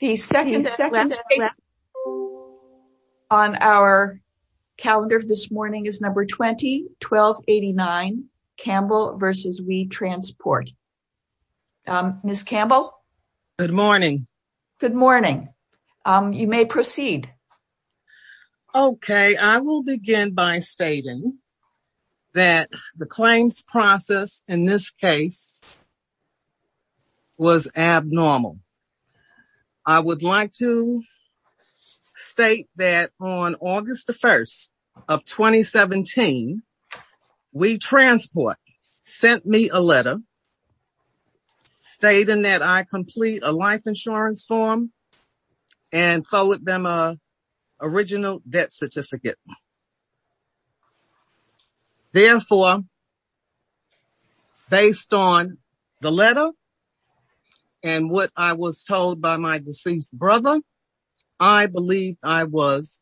The second statement on our calendar this morning is No. 20-1289, Campbell v. We Transport. Ms. Campbell? Good morning. Good morning. You may proceed. Okay, I will begin by stating that the claims process in this case was abnormal. I would like to state that on August 1st of 2017, We Transport sent me a letter stating that I complete a life insurance form and forward them an original debt certificate. Therefore, based on the letter and what I was told by my deceased brother, I believe I was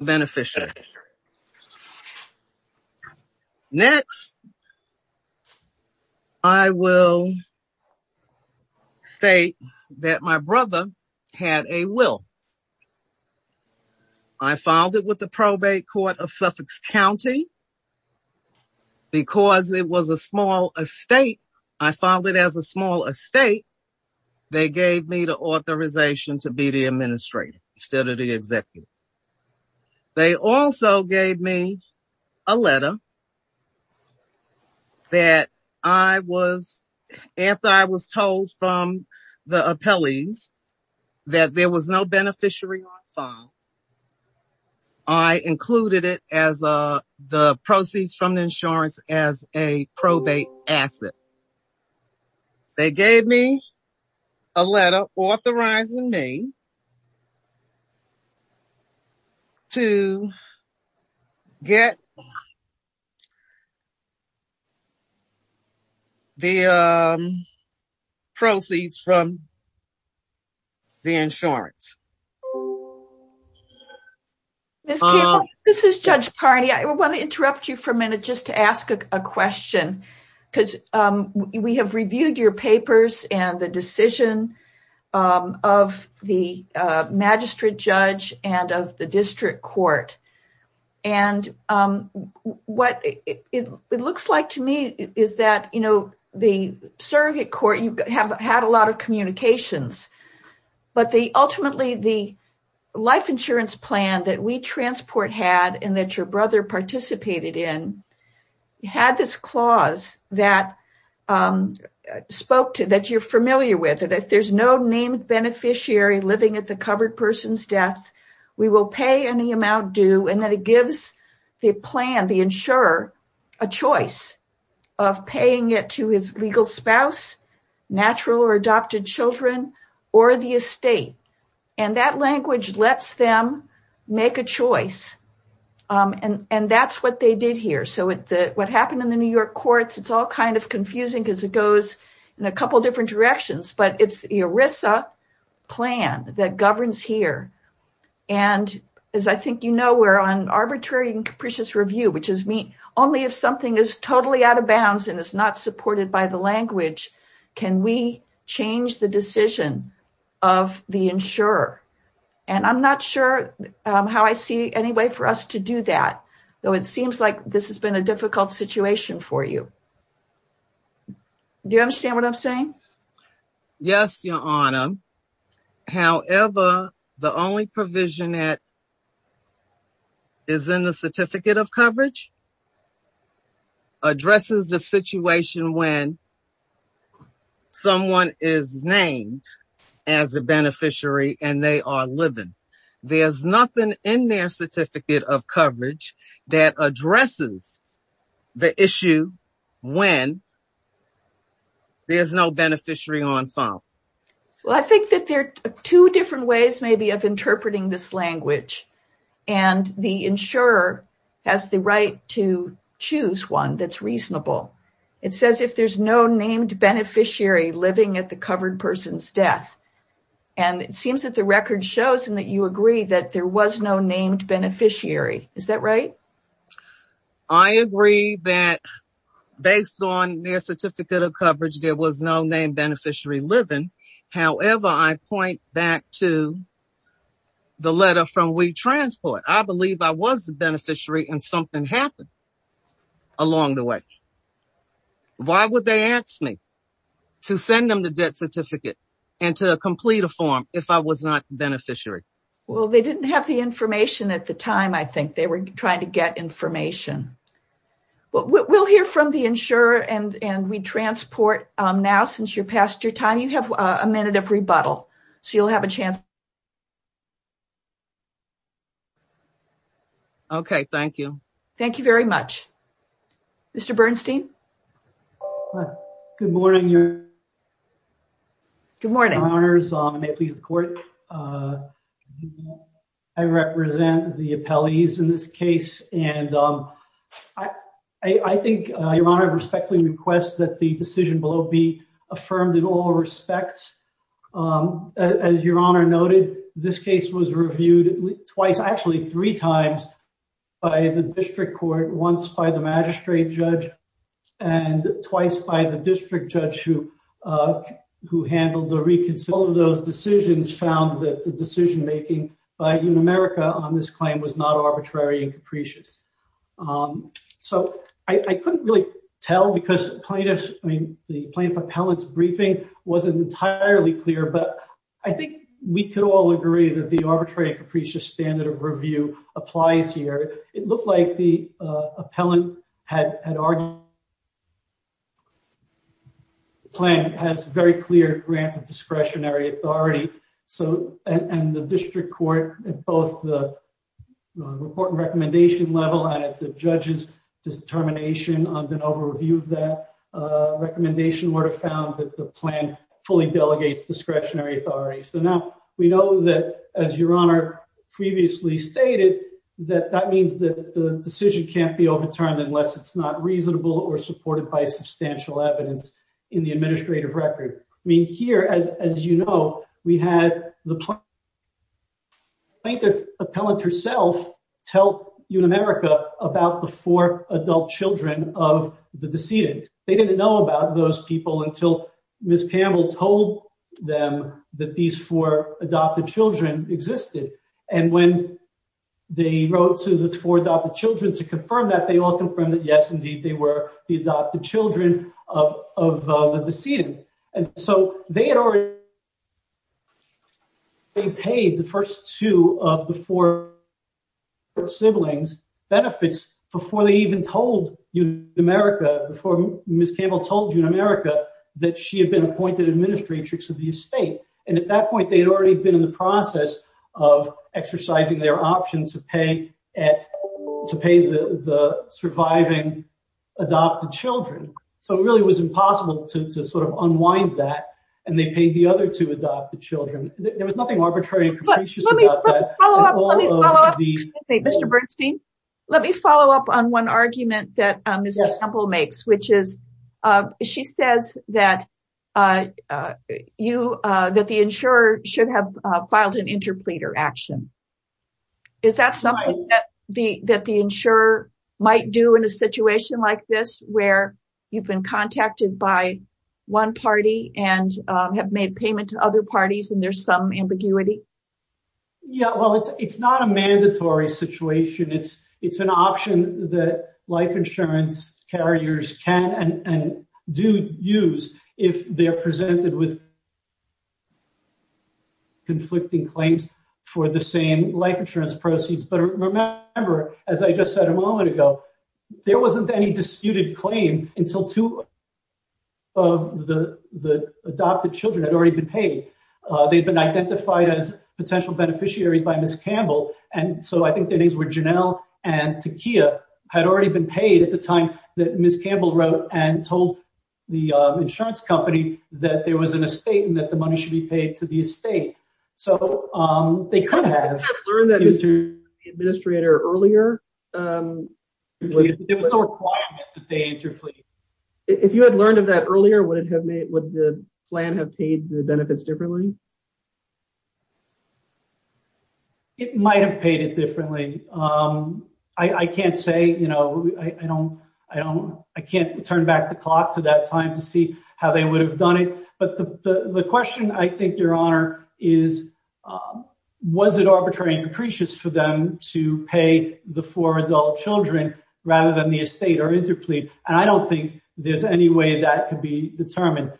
beneficial. Next, I will state that my brother had a will. I filed it with the Probate Court of Suffolk County. Because it was a small estate, I filed it as a small estate. They gave me the authorization to be the administrator instead of the executive. They also gave me a letter that after I was told from the appellees that there was no beneficiary on file, I included the proceeds from the insurance as a probate asset. They gave me a letter authorizing me to get the proceeds from the insurance. Ms. Campbell, this is Judge Carney. I want to interrupt you for a minute just to ask a question because we have reviewed your papers and the decision of the magistrate judge and of the district court. What it looks like to me is that the surrogate court had a lot of communications, but ultimately the life insurance plan that We Transport had and that your brother participated in had this clause that you're familiar with. If there's no named beneficiary living at the covered person's death, we will pay any amount due. And then it gives the plan, the insurer, a choice of paying it to his legal spouse, natural or adopted children, or the estate. And that language lets them make a choice. And that's what they did here. So what happened in the New York courts, it's all kind of confusing because it goes in a couple of different directions, but it's the ERISA plan that governs here. And as I think you know, we're on arbitrary and capricious review, which is only if something is totally out of bounds and is not supported by the language, can we change the decision of the insurer? And I'm not sure how I see any way for us to do that. Though it seems like this has been a difficult situation for you. Do you understand what I'm saying? Yes, Your Honor. However, the only provision that is in the certificate of coverage addresses the situation when someone is named as a beneficiary and they are living. There's nothing in their certificate of coverage that addresses the issue when there's no beneficiary on file. Well, I think that there are two different ways maybe of interpreting this language. And the insurer has the right to choose one that's reasonable. It says if there's no named beneficiary living at the covered person's death. And it seems that the record shows and that you agree that there was no named beneficiary. Is that right? I agree that based on their certificate of coverage, there was no named beneficiary living. However, I point back to the letter from WeTransport. I believe I was a beneficiary and something happened along the way. Why would they ask me to send them the death certificate and to complete a form if I was not a beneficiary? Well, they didn't have the information at the time. I think they were trying to get information. We'll hear from the insurer and WeTransport now since you're past your time. You have a minute of rebuttal, so you'll have a chance. Okay, thank you. Thank you very much. Mr. Bernstein. Good morning, Your Honor. Good morning. Your Honors, may it please the Court. I represent the appellees in this case, and I think Your Honor respectfully requests that the decision below be affirmed in all respects. As Your Honor noted, this case was reviewed twice, actually three times, by the district court, once by the magistrate judge, and twice by the district judge who handled the reconsideration. All of those decisions found that the decision-making in America on this claim was not arbitrary and capricious. So I couldn't really tell because the plaintiff appellant's briefing wasn't entirely clear, but I think we could all agree that the arbitrary and capricious standard of review applies here. It looked like the appellant had argued that the plan has a very clear grant of discretionary authority, and the district court at both the report and recommendation level and at the judge's determination under an overview of that recommendation would have found that the plan fully delegates discretionary authority. So now we know that, as Your Honor previously stated, that that means that the decision can't be overturned unless it's not reasonable or supported by substantial evidence in the administrative record. I mean, here, as you know, we had the plaintiff appellant herself tell Unamerica about the four adult children of the decedent. They didn't know about those people until Ms. Campbell told them that these four adopted children existed. And when they wrote to the four adopted children to confirm that, they all confirmed that, yes, indeed, they were the adopted children of the decedent. And so they had already paid the first two of the four siblings benefits before they even told Unamerica, before Ms. Campbell told Unamerica that she had been appointed administratrix of the estate. And at that point, they had already been in the process of exercising their option to pay the surviving adopted children. So it really was impossible to sort of unwind that, and they paid the other two adopted children. There was nothing arbitrary and capricious about that. Mr. Bernstein, let me follow up on one argument that Ms. Campbell makes, which is she says that the insurer should have filed an interpleader action. Is that something that the insurer might do in a situation like this where you've been contacted by one party and have made payment to other parties and there's some ambiguity? Yeah, well, it's not a mandatory situation. It's an option that life insurance carriers can and do use if they are presented with conflicting claims for the same life insurance proceeds. But remember, as I just said a moment ago, there wasn't any disputed claim until two of the adopted children had already been paid. They'd been identified as potential beneficiaries by Ms. Campbell. And so I think the names were Janelle and Takiyah had already been paid at the time that Ms. Campbell wrote and told the insurance company that there was an estate and that the money should be paid to the estate. So they could have. If you had learned of that earlier, would the plan have paid the benefits differently? It might have paid it differently. I can't say, you know, I don't I don't I can't turn back the clock to that time to see how they would have done it. But the question, I think, Your Honor, is was it arbitrary and capricious for them to pay the four adult children rather than the estate or interplead? And I don't think there's any way that could be determined.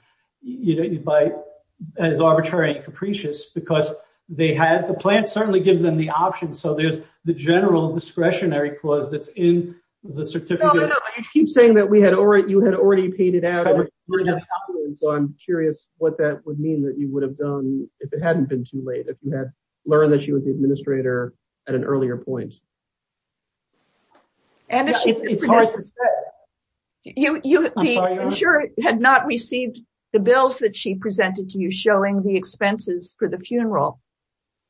You know, by as arbitrary and capricious because they had the plan certainly gives them the option. So there's the general discretionary clause that's in the certificate. You keep saying that we had already you had already paid it out. So I'm curious what that would mean that you would have done if it hadn't been too late. If you had learned that she was the administrator at an earlier point. It's hard to say. The insurer had not received the bills that she presented to you showing the expenses for the funeral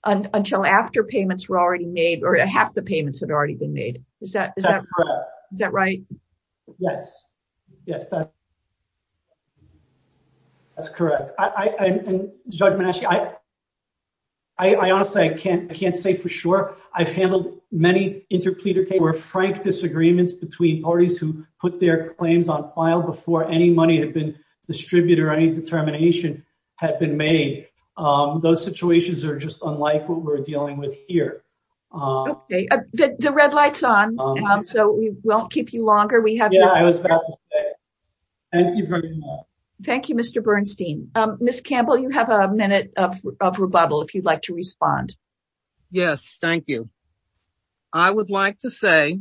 until after payments were already made or half the payments had already been made. Is that is that correct? Is that right? Yes. Yes, that's correct. Judge, I honestly I can't I can't say for sure. I've handled many interpleader case where frank disagreements between parties who put their claims on file before any money had been distributed or any determination had been made. Those situations are just unlike what we're dealing with here. The red lights on. So we won't keep you longer. We have. Thank you, Mr. Bernstein. Ms. Campbell, you have a minute of rebuttal if you'd like to respond. Yes, thank you. I would like to say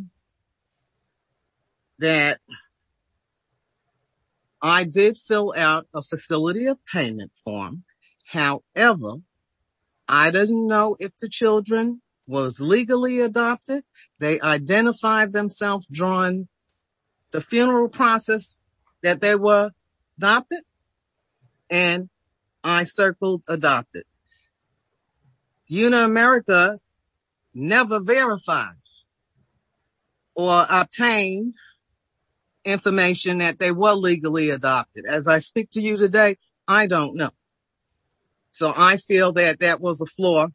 that I did fill out a facility of payment form. However, I didn't know if the children was legally adopted. They identified themselves drawn the funeral process that they were adopted. And I circled adopted. You know, America, never verify or obtain information that they were legally adopted as I speak to you today. I don't know. So I feel that that was a flaw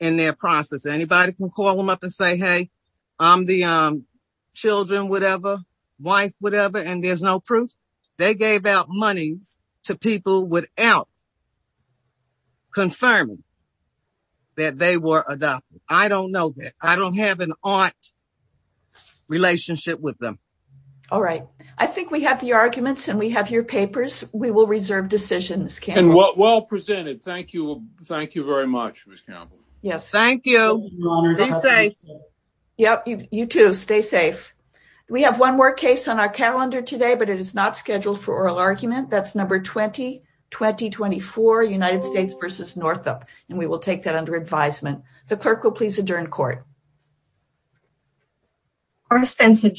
in their process. Anybody can call them up and say, hey, I'm the children, whatever, wife, whatever. And there's no proof. They gave out monies to people without confirming that they were adopted. I don't know that I don't have an art relationship with them. All right. I think we have the arguments and we have your papers. We will reserve decisions. Well presented. Thank you. Thank you very much. Yes, thank you. Yep. You too. Stay safe. We have one more case on our calendar today, but it is not scheduled for oral argument. That's number 20, 2024 United States versus Northup. And we will take that under advisement. The clerk will please adjourn court. Our sense of.